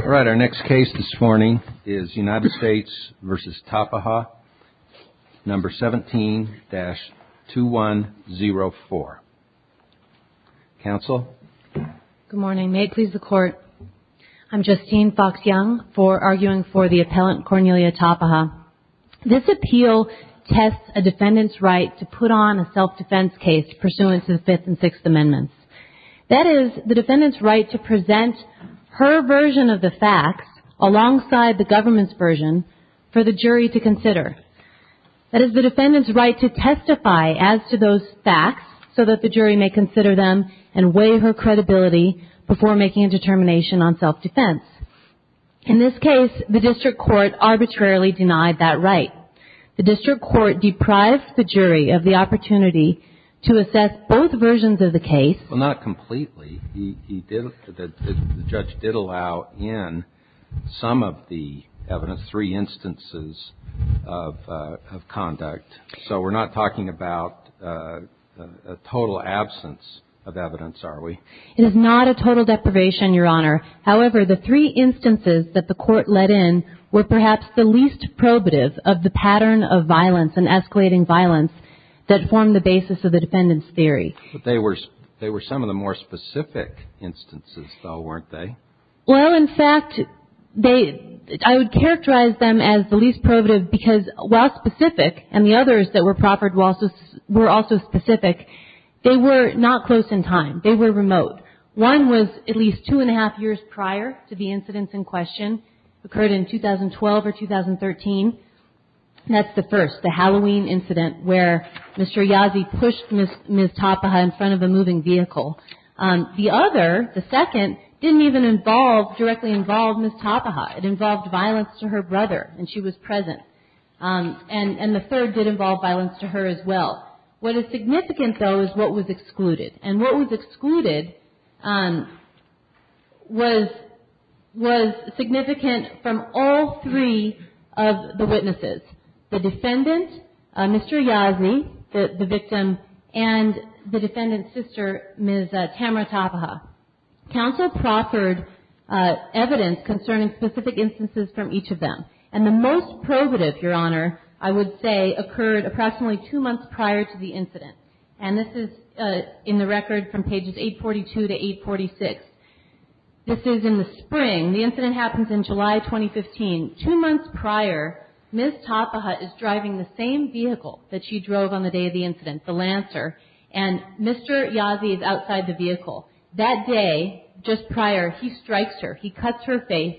All right, our next case this morning is United States v. Tapaha. Number 17-2104. Counsel? Good morning. May it please the Court. I'm Justine Fox-Young for arguing for the appellant Cornelia Tapaha. This appeal tests a defendant's right to put on a self-defense case pursuant to the Fifth and Sixth Amendments. That is, the defendant's right to present her version of the facts alongside the government's version for the jury to consider. That is, the defendant's right to testify as to those facts so that the jury may consider them and weigh her credibility before making a determination on self-defense. In this case, the district court arbitrarily denied that right. The district court deprived the jury of the opportunity to assess both versions of the case. Well, not completely. The judge did allow in some of the evidence three instances of conduct. So we're not talking about a total absence of evidence, are we? It is not a total deprivation, Your Honor. However, the three instances that the court let in were perhaps the least probative of the pattern of violence and escalating violence that formed the basis of the defendant's theory. But they were some of the more specific instances, though, weren't they? Well, in fact, they – I would characterize them as the least probative because while specific, and the others that were proffered were also specific, they were not close in time. The other, the second, didn't even involve, directly involve Ms. Tapaha. It involved violence to her brother, and she was present. And the third did involve violence to her as well. What is significant, though, is what was excluded. And what was excluded was significant from all three of the witnesses. The defendant, Mr. Yazni, the victim, and the defendant's sister, Ms. Tamara Tapaha. Counsel proffered evidence concerning specific instances from each of them. And the most probative, Your Honor, I would say occurred approximately two months prior to the incident. And this is in the record from pages 842 to 846. This is in the spring. The incident happens in July 2015. Two months prior, Ms. Tapaha is driving the same vehicle that she drove on the day of the incident, the Lancer, and Mr. Yazni is outside the vehicle. That day, just prior, he strikes her. He cuts her face.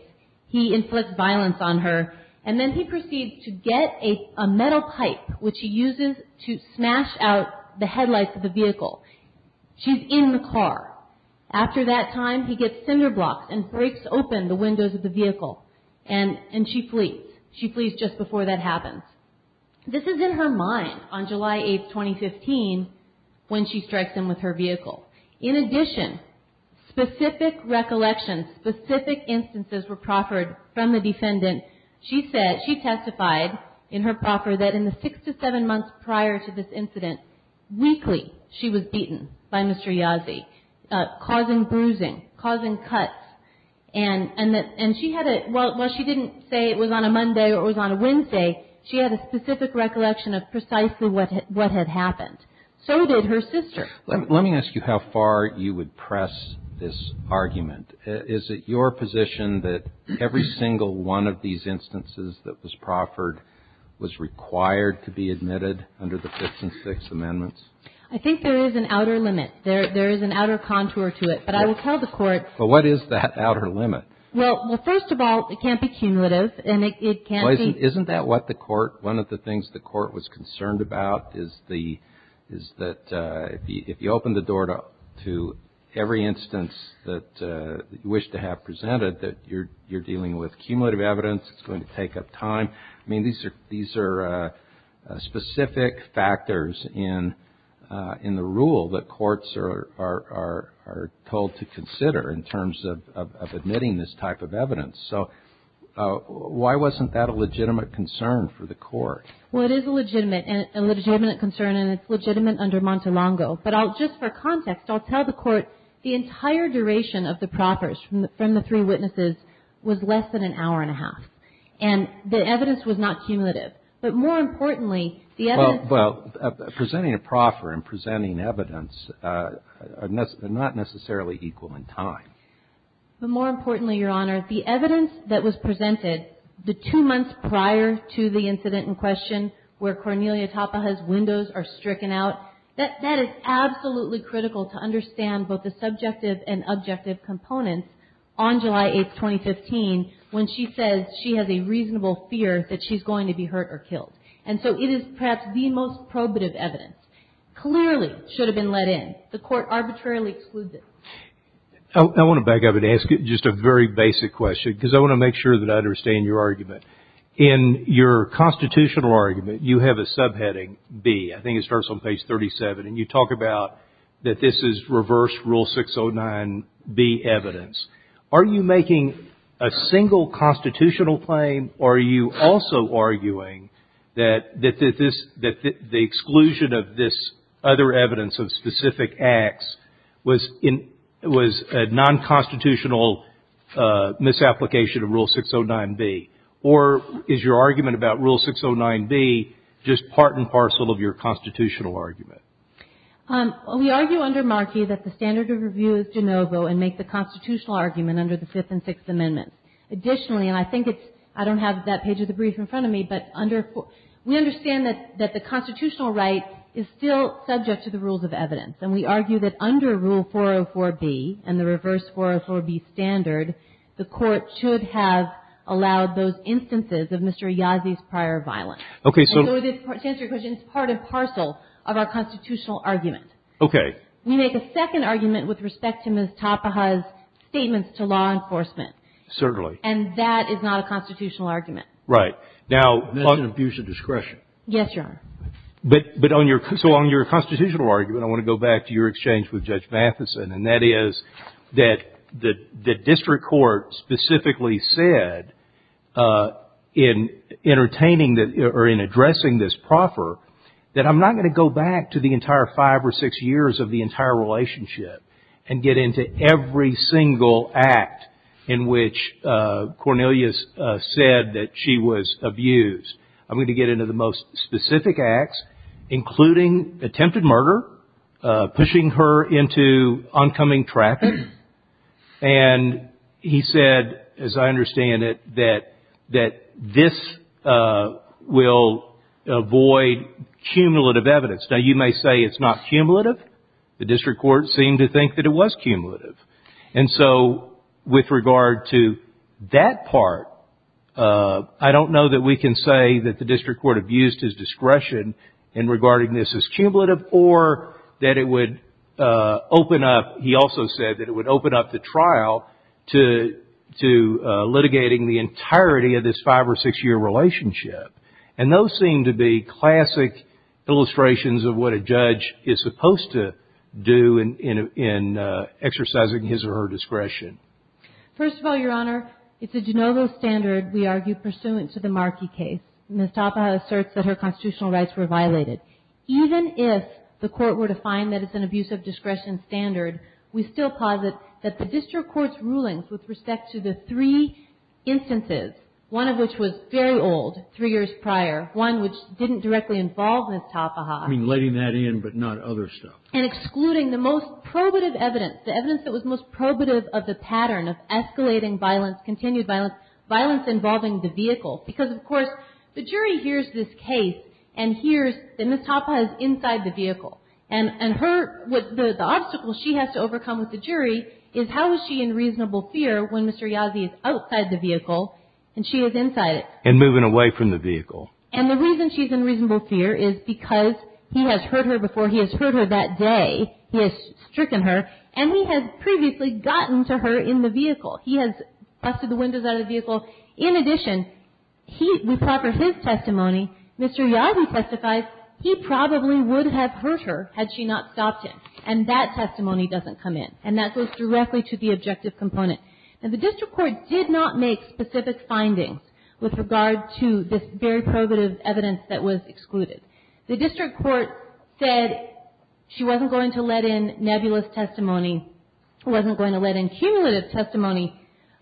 He inflicts violence on her. And then he proceeds to get a metal pipe, which he uses to smash out the headlights of the vehicle. She's in the car. After that time, he gets cinder blocks and breaks open the windows of the vehicle. And she flees. She flees just before that happens. This is in her mind on July 8, 2015, when she strikes him with her vehicle. In addition, specific recollections, specific instances were proffered from the defendant. She testified in her proffer that in the six to seven months prior to this incident, weekly she was beaten by Mr. Yazni, causing bruising, causing cuts. And while she didn't say it was on a Monday or it was on a Wednesday, she had a specific recollection of precisely what had happened. So did her sister. Let me ask you how far you would press this argument. Is it your position that every single one of these instances that was proffered was required to be admitted under the Fifth and Sixth Amendments? I think there is an outer limit. There is an outer contour to it. But I will tell the Court. But what is that outer limit? Well, first of all, it can't be cumulative. And it can't be. One of the things the Court was concerned about is that if you open the door to every instance that you wish to have presented, that you're dealing with cumulative evidence, it's going to take up time. I mean, these are specific factors in the rule that courts are told to consider in terms of admitting this type of evidence. So why wasn't that a legitimate concern for the Court? Well, it is a legitimate concern, and it's legitimate under Montelongo. But just for context, I'll tell the Court the entire duration of the proffers from the three witnesses was less than an hour and a half. And the evidence was not cumulative. But more importantly, the evidence – Well, presenting a proffer and presenting evidence are not necessarily equal in time. But more importantly, Your Honor, the evidence that was presented the two months prior to the incident in question where Cornelia Tapaja's windows are stricken out, that is absolutely critical to understand both the subjective and objective components on July 8, 2015, when she says she has a reasonable fear that she's going to be hurt or killed. And so it is perhaps the most probative evidence. Clearly should have been let in. The Court arbitrarily excludes it. I want to back up and ask just a very basic question, because I want to make sure that I understand your argument. In your constitutional argument, you have a subheading, B. I think it starts on page 37. And you talk about that this is reverse Rule 609B evidence. Are you making a single constitutional claim, or are you also arguing that the exclusion of this other evidence of specific acts was a nonconstitutional misapplication of Rule 609B? Or is your argument about Rule 609B just part and parcel of your constitutional argument? We argue under Markey that the standard of review is de novo and make the constitutional argument under the Fifth and Sixth Amendments. Additionally, and I think it's – I don't have that page of the brief in front of me, but under – we understand that the constitutional right is still subject to the rules of evidence, and we argue that under Rule 404B and the reverse 404B standard, the Court should have allowed those instances of Mr. Yazzie's prior violence. And so to answer your question, it's part and parcel of our constitutional argument. Okay. We make a second argument with respect to Ms. Tapaha's statements to law enforcement. Certainly. And that is not a constitutional argument. Right. Now – That's an abuse of discretion. Yes, Your Honor. But on your – so on your constitutional argument, I want to go back to your exchange with Judge Matheson. And that is that the district court specifically said in entertaining – or in addressing this proffer that I'm not going to go back to the entire five or six years of the entire relationship and get into every single act in which Cornelius said that she was abused. I'm going to get into the most specific acts, including attempted murder, pushing her into oncoming traffic. And he said, as I understand it, that this will avoid cumulative evidence. Now, you may say it's not cumulative. The district court seemed to think that it was cumulative. And so with regard to that part, I don't know that we can say that the district court abused his discretion in regarding this as cumulative or that it would open up – he also said that it would open up the trial to litigating the entirety of this five- or six-year relationship. And those seem to be classic illustrations of what a judge is supposed to do in exercising his or her discretion. First of all, Your Honor, it's a de novo standard, we argue, pursuant to the Markey case. Ms. Topper asserts that her constitutional rights were violated. Even if the court were to find that it's an abuse of discretion standard, we still posit that the district court's rulings with respect to the three instances, one of which was very old, three years prior, one which didn't directly involve Ms. Topper. You mean letting that in but not other stuff? And excluding the most probative evidence, the evidence that was most probative of the pattern of escalating violence, continued violence, violence involving the vehicle. Because, of course, the jury hears this case and hears that Ms. Topper is inside the vehicle. And her – the obstacle she has to overcome with the jury is how is she in reasonable fear when Mr. Yazzie is outside the vehicle and she is inside it. And moving away from the vehicle. And the reason she's in reasonable fear is because he has hurt her before. He has hurt her that day. He has stricken her. And he has previously gotten to her in the vehicle. He has busted the windows out of the vehicle. In addition, he – with proper his testimony, Mr. Yazzie testifies, he probably would have hurt her had she not stopped him. And that testimony doesn't come in. And that goes directly to the objective component. Now, the district court did not make specific findings with regard to this very probative evidence that was excluded. The district court said she wasn't going to let in nebulous testimony, wasn't going to let in cumulative testimony.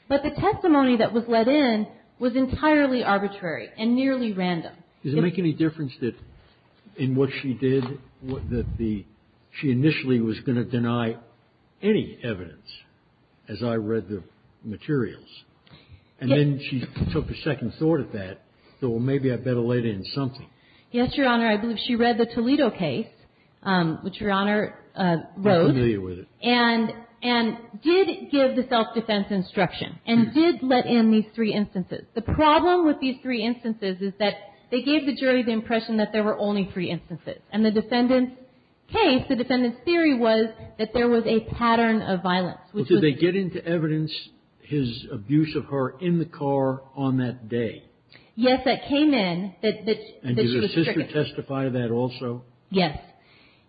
But the testimony that was let in was entirely arbitrary and nearly random. Does it make any difference that in what she did that the – she initially was going to deny any evidence as I read the materials? And then she took a second thought at that. So maybe I better let in something. Yes, Your Honor. I believe she read the Toledo case, which Your Honor wrote. I'm familiar with it. And did give the self-defense instruction. And did let in these three instances. The problem with these three instances is that they gave the jury the impression that there were only three instances. And the defendant's case, the defendant's theory was that there was a pattern of violence, which was – Well, did they get into evidence, his abuse of her in the car on that day? Yes, that came in. And did her sister testify to that also? Yes.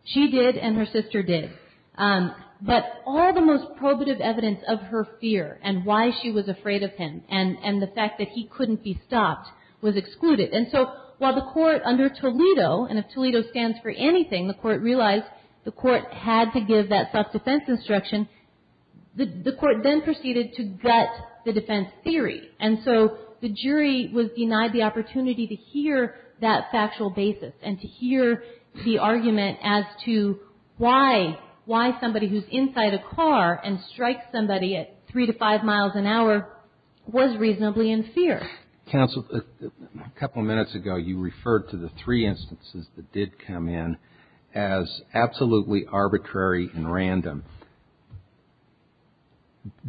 She did and her sister did. But all the most probative evidence of her fear and why she was afraid of him and the fact that he couldn't be stopped was excluded. And so while the court under Toledo, and if Toledo stands for anything, the court realized the court had to give that self-defense instruction, the court then proceeded to gut the defense theory. And so the jury was denied the opportunity to hear that factual basis and to hear the argument as to why, why somebody who's inside a car and strikes somebody at three to five miles an hour was reasonably in fear. Counsel, a couple minutes ago you referred to the three instances that did come in as absolutely arbitrary and random.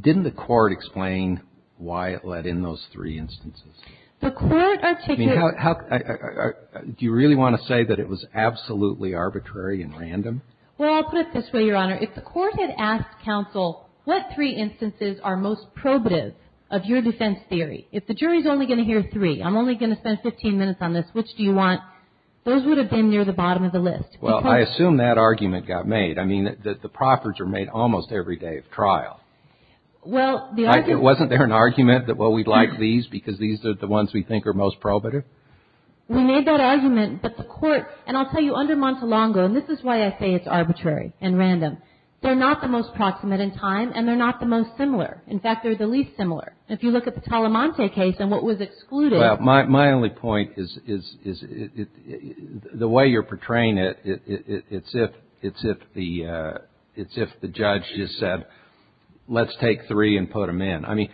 Didn't the court explain why it let in those three instances? The court articulated – Do you really want to say that it was absolutely arbitrary and random? Well, I'll put it this way, Your Honor. If the court had asked counsel what three instances are most probative of your defense theory, if the jury's only going to hear three, I'm only going to spend 15 minutes on this, which do you want, those would have been near the bottom of the list. Well, I assume that argument got made. I mean, the proffers are made almost every day of trial. Well, the argument – Wasn't there an argument that, well, we'd like these because these are the ones we think are most probative? We made that argument, but the court – and I'll tell you, under Montelongo, and this is why I say it's arbitrary and random, they're not the most proximate in time and they're not the most similar. In fact, they're the least similar. If you look at the Talamante case and what was excluded – it's if the judge just said, let's take three and put them in. I mean,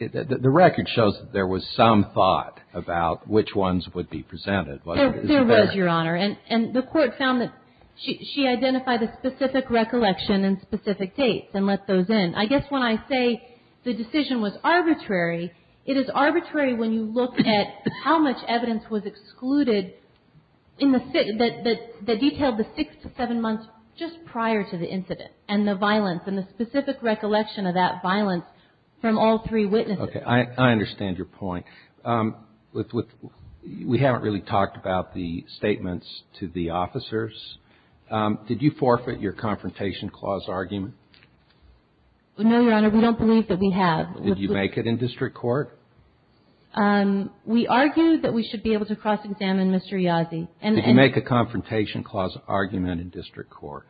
the record shows that there was some thought about which ones would be presented, wasn't there? There was, Your Honor. And the court found that she identified a specific recollection and specific dates and let those in. I guess when I say the decision was arbitrary, it is arbitrary when you look at how much evidence was excluded that detailed the six to seven months just prior to the incident and the violence and the specific recollection of that violence from all three witnesses. Okay. I understand your point. We haven't really talked about the statements to the officers. Did you forfeit your confrontation clause argument? No, Your Honor. We don't believe that we have. Did you make it in district court? We argue that we should be able to cross-examine Mr. Yazzie. Did you make a confrontation clause argument in district court?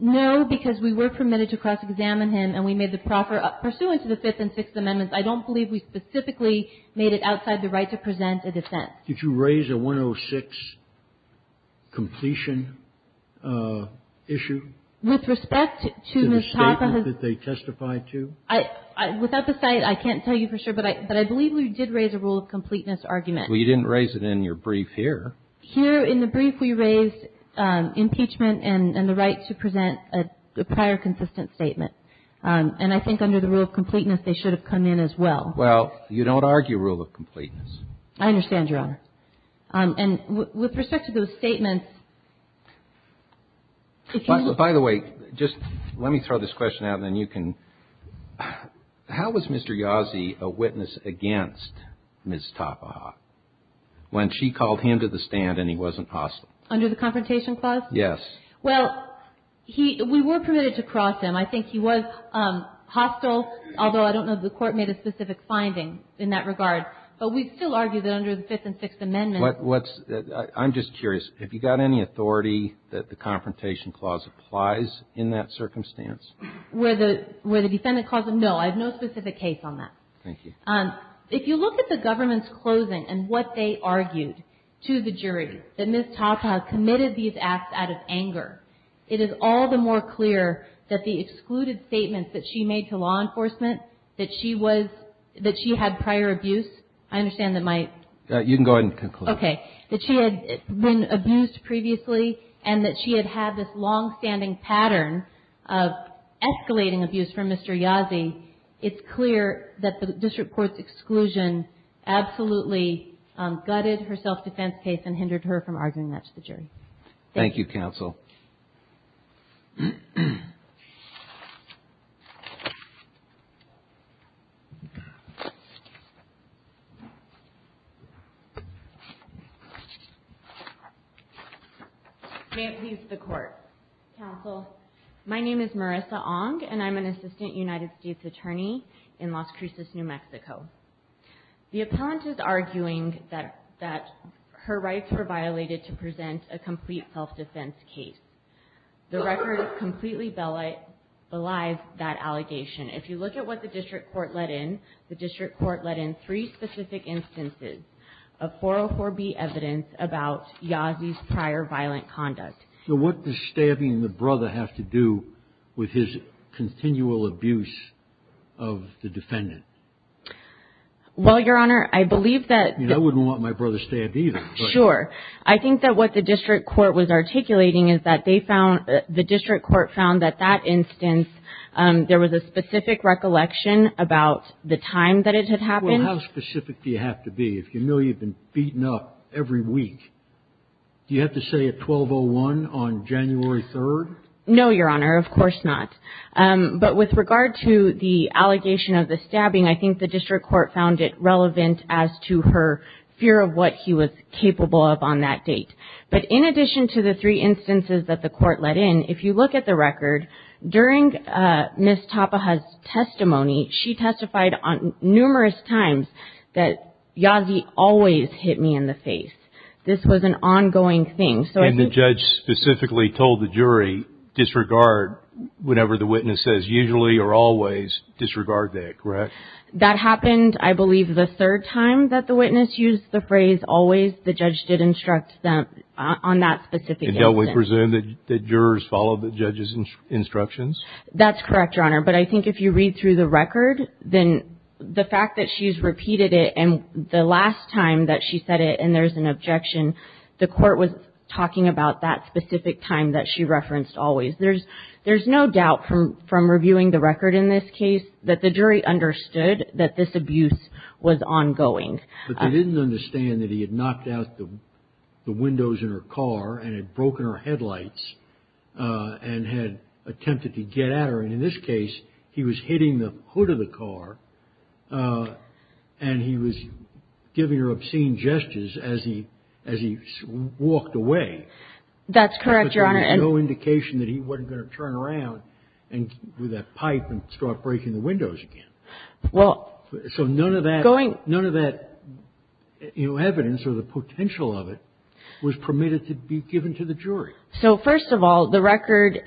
No, because we were permitted to cross-examine him and we made the proper – pursuant to the Fifth and Sixth Amendments, I don't believe we specifically made it outside the right to present a defense. Did you raise a 106 completion issue? With respect to the statement that they testified to? Without the site, I can't tell you for sure, but I believe we did raise a rule of completeness argument. Well, you didn't raise it in your brief here. Here in the brief, we raised impeachment and the right to present a prior consistent statement. And I think under the rule of completeness, they should have come in as well. Well, you don't argue rule of completeness. I understand, Your Honor. And with respect to those statements, if you – By the way, just let me throw this question out and then you can – how was Mr. Yazzie a witness against Ms. Topaha when she called him to the stand and he wasn't hostile? Under the confrontation clause? Yes. Well, he – we were permitted to cross him. I think he was hostile, although I don't know if the Court made a specific finding in that regard. But we still argue that under the Fifth and Sixth Amendments – What's – I'm just curious. Have you got any authority that the confrontation clause applies in that circumstance? Where the defendant calls him? No. I have no specific case on that. Thank you. If you look at the government's closing and what they argued to the jury that Ms. Topaha committed these acts out of anger, it is all the more clear that the excluded statements that she made to law enforcement, that she was – that she had prior abuse. I understand that my – You can go ahead and conclude. Okay. That she had been abused previously and that she had had this longstanding pattern of escalating abuse from Mr. Yazzie. It's clear that the district court's exclusion absolutely gutted her self-defense case and hindered her from arguing that to the jury. Thank you. Thank you, counsel. May it please the Court. Counsel, my name is Marissa Ong and I'm an assistant United States attorney in Las Cruces, New Mexico. The appellant is arguing that her rights were violated I would like to make a point of clarification The record completely belies that allegation. If you look at what the district court let in, the district court let in three specific instances of 404B evidence about Yazzie's prior violent conduct. So what does stabbing the brother have to do with his continual abuse of the defendant? Well, Your Honor, I believe that – I wouldn't want my brother stabbed either. Sure. I think that what the district court was articulating is that they found – the district court found that that instance, there was a specific recollection about the time that it had happened. Well, how specific do you have to be? If you know you've been beaten up every week, do you have to say at 1201 on January 3rd? No, Your Honor, of course not. But with regard to the allegation of the stabbing, I think the district court found it relevant as to her fear of what he was capable of on that date. But in addition to the three instances that the court let in, if you look at the record, during Ms. Tapaha's testimony, she testified numerous times that Yazzie always hit me in the face. This was an ongoing thing. And the judge specifically told the jury, whenever the witness says usually or always, disregard that, correct? That happened, I believe, the third time that the witness used the phrase always. The judge did instruct them on that specific instance. And don't we presume that the jurors followed the judge's instructions? That's correct, Your Honor. But I think if you read through the record, then the fact that she's repeated it, and the last time that she said it and there's an objection, the court was talking about that specific time that she referenced always. There's no doubt from reviewing the record in this case that the jury understood that this abuse was ongoing. But they didn't understand that he had knocked out the windows in her car and had broken her headlights and had attempted to get at her. And in this case, he was hitting the hood of the car. And he was giving her obscene gestures as he walked away. That's correct, Your Honor. There was no indication that he wasn't going to turn around and do that pipe and start breaking the windows again. So none of that evidence or the potential of it was permitted to be given to the jury. So first of all, the record,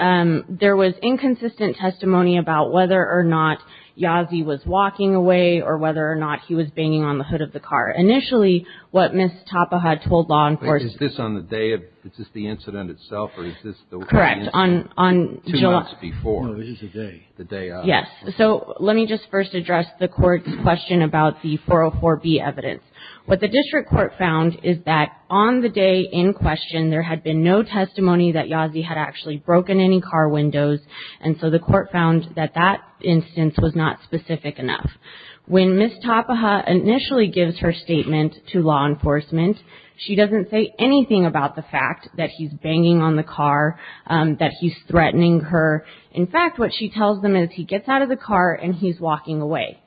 there was inconsistent testimony about whether or not Yazzie was walking away or whether or not he was banging on the hood of the car. Initially, what Ms. Tapaha told law enforcement. Is this on the day? Is this the incident itself, or is this the incident two months before? No, it is the day. The day of. Yes. So let me just first address the Court's question about the 404B evidence. What the district court found is that on the day in question, there had been no testimony that Yazzie had actually broken any car windows. And so the Court found that that instance was not specific enough. When Ms. Tapaha initially gives her statement to law enforcement, she doesn't say anything about the fact that he's banging on the car, that he's threatening her. In fact, what she tells them is he gets out of the car and he's walking away.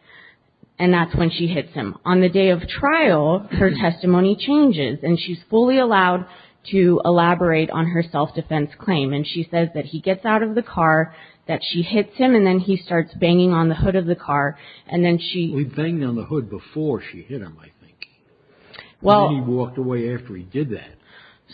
And that's when she hits him. On the day of trial, her testimony changes. And she's fully allowed to elaborate on her self-defense claim. And she says that he gets out of the car, that she hits him, and then he starts banging on the hood of the car. He banged on the hood before she hit him, I think. And then he walked away after he did that.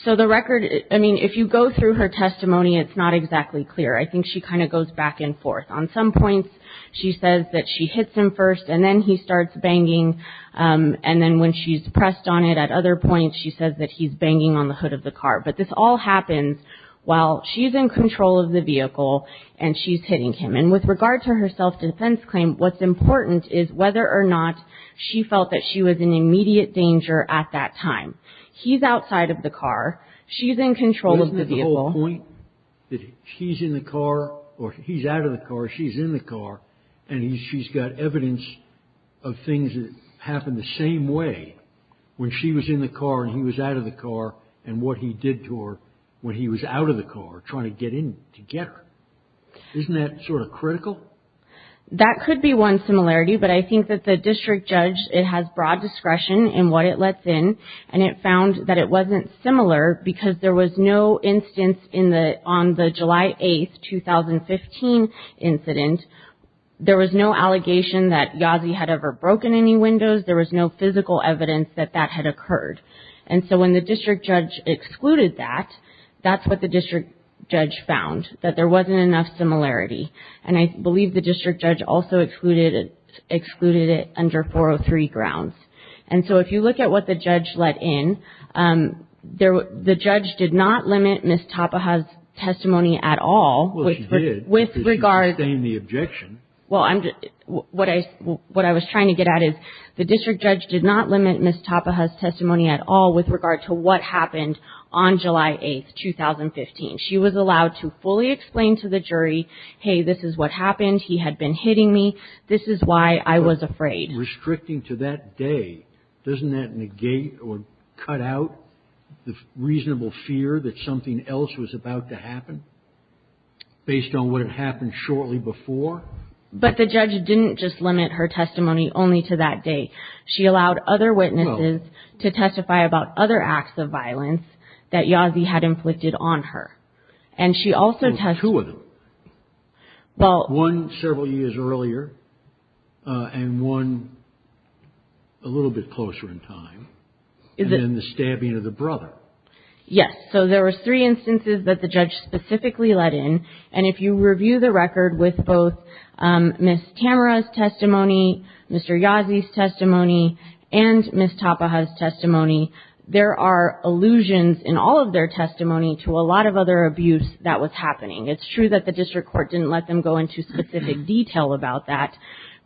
So the record, I mean, if you go through her testimony, it's not exactly clear. I think she kind of goes back and forth. On some points, she says that she hits him first, and then he starts banging. And then when she's pressed on it at other points, she says that he's banging on the hood of the car. But this all happens while she's in control of the vehicle and she's hitting him. And with regard to her self-defense claim, what's important is whether or not she felt that she was in immediate danger at that time. He's outside of the car. She's in control of the vehicle. Isn't the whole point that he's in the car or he's out of the car, she's in the car, and she's got evidence of things that happened the same way when she was in the car and he was out of the car and what he did to her when he was out of the car trying to get in to get her. Isn't that sort of critical? That could be one similarity, but I think that the district judge, it has broad discretion in what it lets in, and it found that it wasn't similar because there was no instance on the July 8th, 2015 incident, there was no allegation that Yazzie had ever broken any windows. There was no physical evidence that that had occurred. And so when the district judge excluded that, that's what the district judge found, that there wasn't enough similarity. And I believe the district judge also excluded it under 403 grounds. And so if you look at what the judge let in, the judge did not limit Ms. Tapaha's testimony at all. Well, she did because she sustained the objection. Well, what I was trying to get at is the district judge did not limit Ms. Tapaha's testimony at all with regard to what happened on July 8th, 2015. She was allowed to fully explain to the jury, hey, this is what happened, he had been hitting me, this is why I was afraid. Restricting to that day, doesn't that negate or cut out the reasonable fear that something else was about to happen based on what had happened shortly before? But the judge didn't just limit her testimony only to that date. She allowed other witnesses to testify about other acts of violence that Yazzie had inflicted on her. Well, two of them. One several years earlier, and one a little bit closer in time. And then the stabbing of the brother. Yes, so there were three instances that the judge specifically let in. And if you review the record with both Ms. Tamara's testimony, Mr. Yazzie's testimony, and Ms. Tapaha's testimony, there are allusions in all of their testimony to a lot of other abuse that was happening. It's true that the district court didn't let them go into specific detail about that.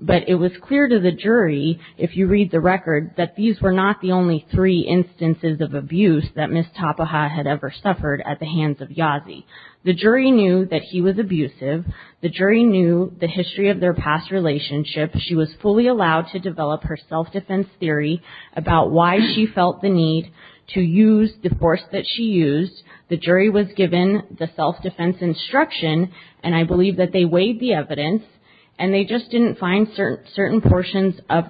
But it was clear to the jury, if you read the record, that these were not the only three instances of abuse that Ms. Tapaha had ever suffered at the hands of Yazzie. The jury knew that he was abusive. The jury knew the history of their past relationship. She was fully allowed to develop her self-defense theory about why she felt the need to use the force that she used. The jury was given the self-defense instruction, and I believe that they weighed the evidence, and they just didn't find certain portions of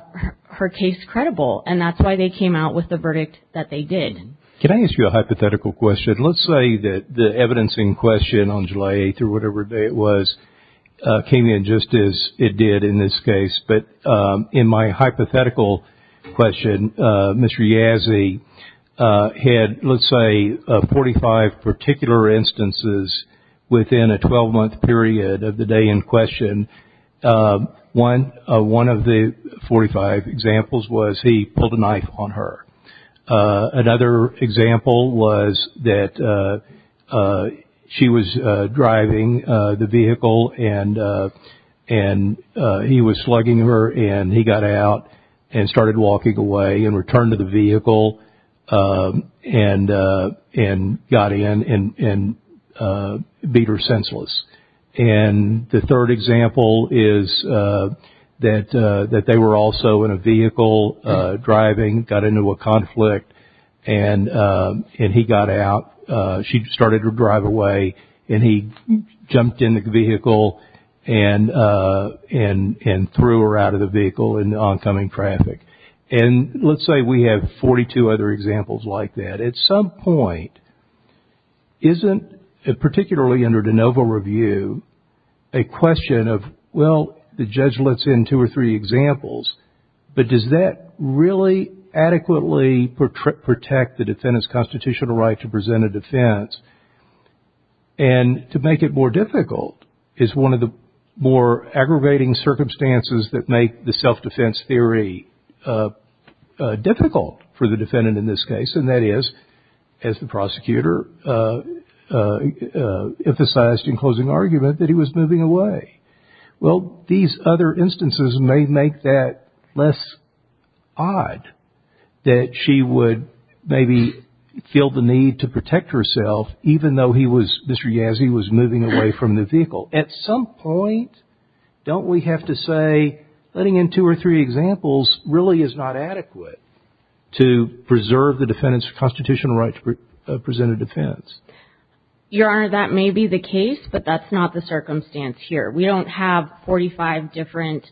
her case credible. And that's why they came out with the verdict that they did. Can I ask you a hypothetical question? Let's say that the evidence in question on July 8th or whatever day it was came in just as it did in this case. But in my hypothetical question, Mr. Yazzie had, let's say, 45 particular instances within a 12-month period of the day in question. One of the 45 examples was he pulled a knife on her. Another example was that she was driving the vehicle, and he was slugging her, and he got out and started walking away and returned to the vehicle and got in and beat her senseless. And the third example is that they were also in a vehicle driving, got into a conflict, and he got out. She started to drive away, and he jumped in the vehicle and threw her out of the vehicle in the oncoming traffic. And let's say we have 42 other examples like that. At some point, isn't, particularly under de novo review, a question of, well, the judge lets in two or three examples, but does that really adequately protect the defendant's constitutional right to present a defense? And to make it more difficult is one of the more aggravating circumstances that make the self-defense theory difficult for the defendant in this case, and that is, as the prosecutor emphasized in closing argument, that he was moving away. Well, these other instances may make that less odd, that she would maybe feel the need to protect herself, even though Mr. Yazzie was moving away from the vehicle. At some point, don't we have to say letting in two or three examples really is not adequate to preserve the defendant's constitutional right to present a defense? Your Honor, that may be the case, but that's not the circumstance here. We don't have 45 different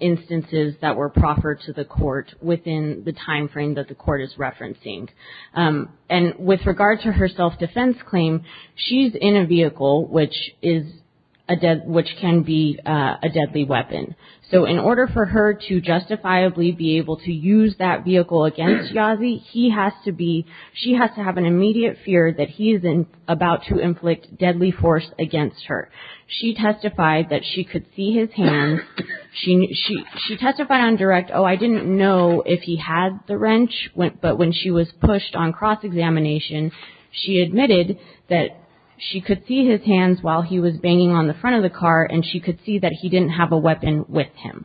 instances that were proffered to the court within the timeframe that the court is referencing. And with regard to her self-defense claim, she's in a vehicle which can be a deadly weapon. So in order for her to justifiably be able to use that vehicle against Yazzie, she has to have an immediate fear that he is about to inflict deadly force against her. She testified that she could see his hands. She testified on direct, oh, I didn't know if he had the wrench, but when she was pushed on cross-examination, she admitted that she could see his hands while he was banging on the front of the car and she could see that he didn't have a weapon with him.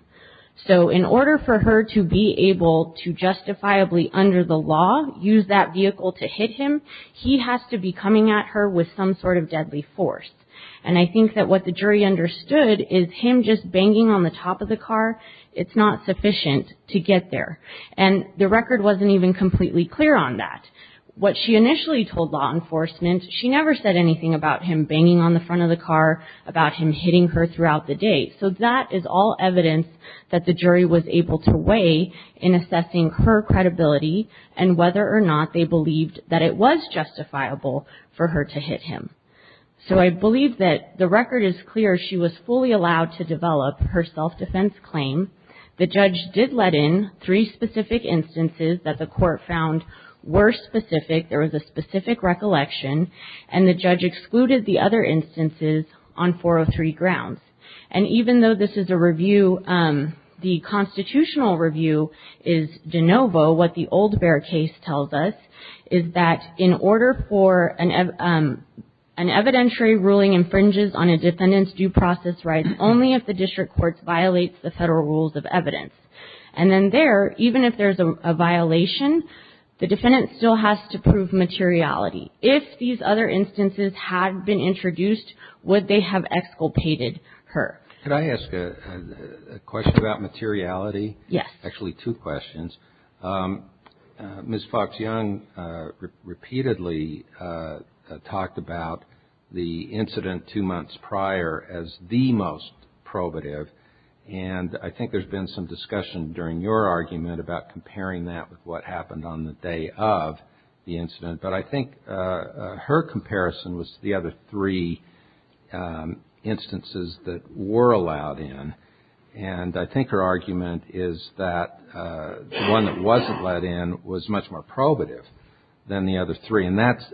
So in order for her to be able to justifiably, under the law, use that vehicle to hit him, he has to be coming at her with some sort of deadly force. And I think that what the jury understood is him just banging on the top of the car, it's not sufficient to get there. And the record wasn't even completely clear on that. What she initially told law enforcement, she never said anything about him banging on the front of the car, about him hitting her throughout the day. So that is all evidence that the jury was able to weigh in assessing her credibility and whether or not they believed that it was justifiable for her to hit him. So I believe that the record is clear. She was fully allowed to develop her self-defense claim. The judge did let in three specific instances that the court found were specific. There was a specific recollection. And the judge excluded the other instances on 403 grounds. And even though this is a review, the constitutional review is de novo. What the Old Bear case tells us is that in order for an evidentiary ruling infringes on a defendant's due process rights only if the district court violates the federal rules of evidence. And then there, even if there's a violation, the defendant still has to prove materiality. If these other instances had been introduced, would they have exculpated her? Can I ask a question about materiality? Yes. Actually, two questions. Ms. Fox-Young repeatedly talked about the incident two months prior as the most probative. And I think there's been some discussion during your argument about comparing that with what happened on the day of the incident. But I think her comparison was to the other three instances that were allowed in. And I think her argument is that the one that wasn't let in was much more probative than the other three. And that's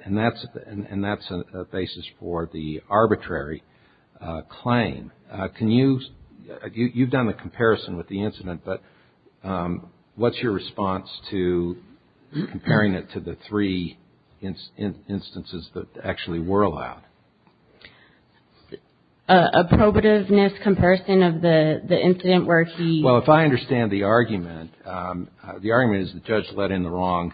a basis for the arbitrary claim. Can you – you've done the comparison with the incident, but what's your response to comparing it to the three instances that actually were allowed? A probativeness comparison of the incident where he – Well, if I understand the argument, the argument is the judge let in the wrong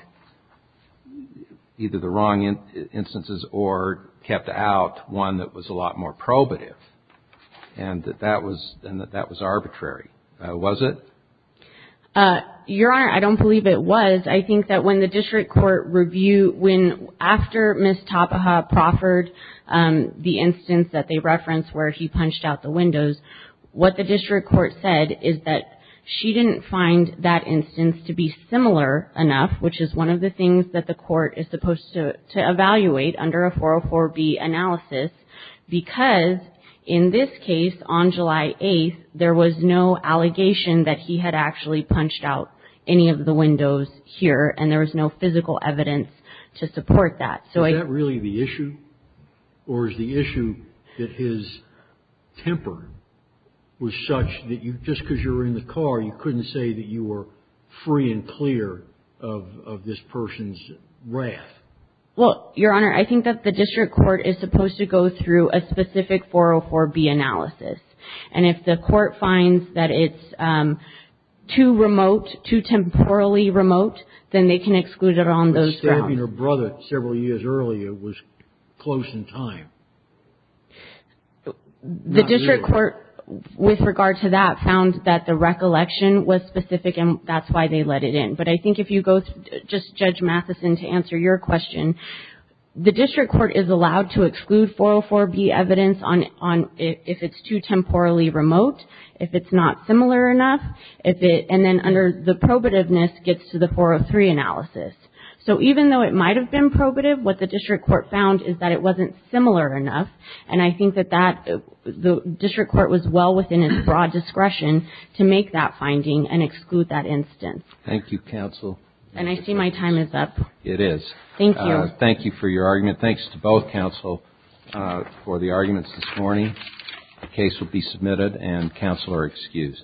– either the wrong instances or kept out one that was a lot more probative. And that that was arbitrary. Was it? Your Honor, I don't believe it was. I think that when the district court review – when – after Ms. Tapaha proffered the instance that they referenced where he punched out the windows, what the district court said is that she didn't find that instance to be similar enough, which is one of the things that the court is supposed to evaluate under a 404B analysis, because in this case, on July 8th, there was no allegation that he had actually punched out any of the windows here, and there was no physical evidence to support that. So I – Is that really the issue? Or is the issue that his temper was such that you – just because you were in the car, you couldn't say that you were free and clear of this person's wrath? Well, Your Honor, I think that the district court is supposed to go through a specific 404B analysis. And if the court finds that it's too remote, too temporally remote, then they can exclude it on those grounds. But stabbing her brother several years earlier was close in time. The district court, with regard to that, found that the recollection was specific, and that's why they let it in. But I think if you go – just, Judge Mathison, to answer your question, the district court is allowed to exclude 404B evidence on – if it's too temporally remote, if it's not similar enough, if it – and then under the probativeness gets to the 403 analysis. So even though it might have been probative, what the district court found is that it wasn't similar enough, and I think that that – the district court was well within its broad discretion to make that finding and exclude that instance. Thank you, counsel. And I see my time is up. It is. Thank you. Thank you for your argument. Thanks to both counsel for the arguments this morning. The case will be submitted, and counsel are excused.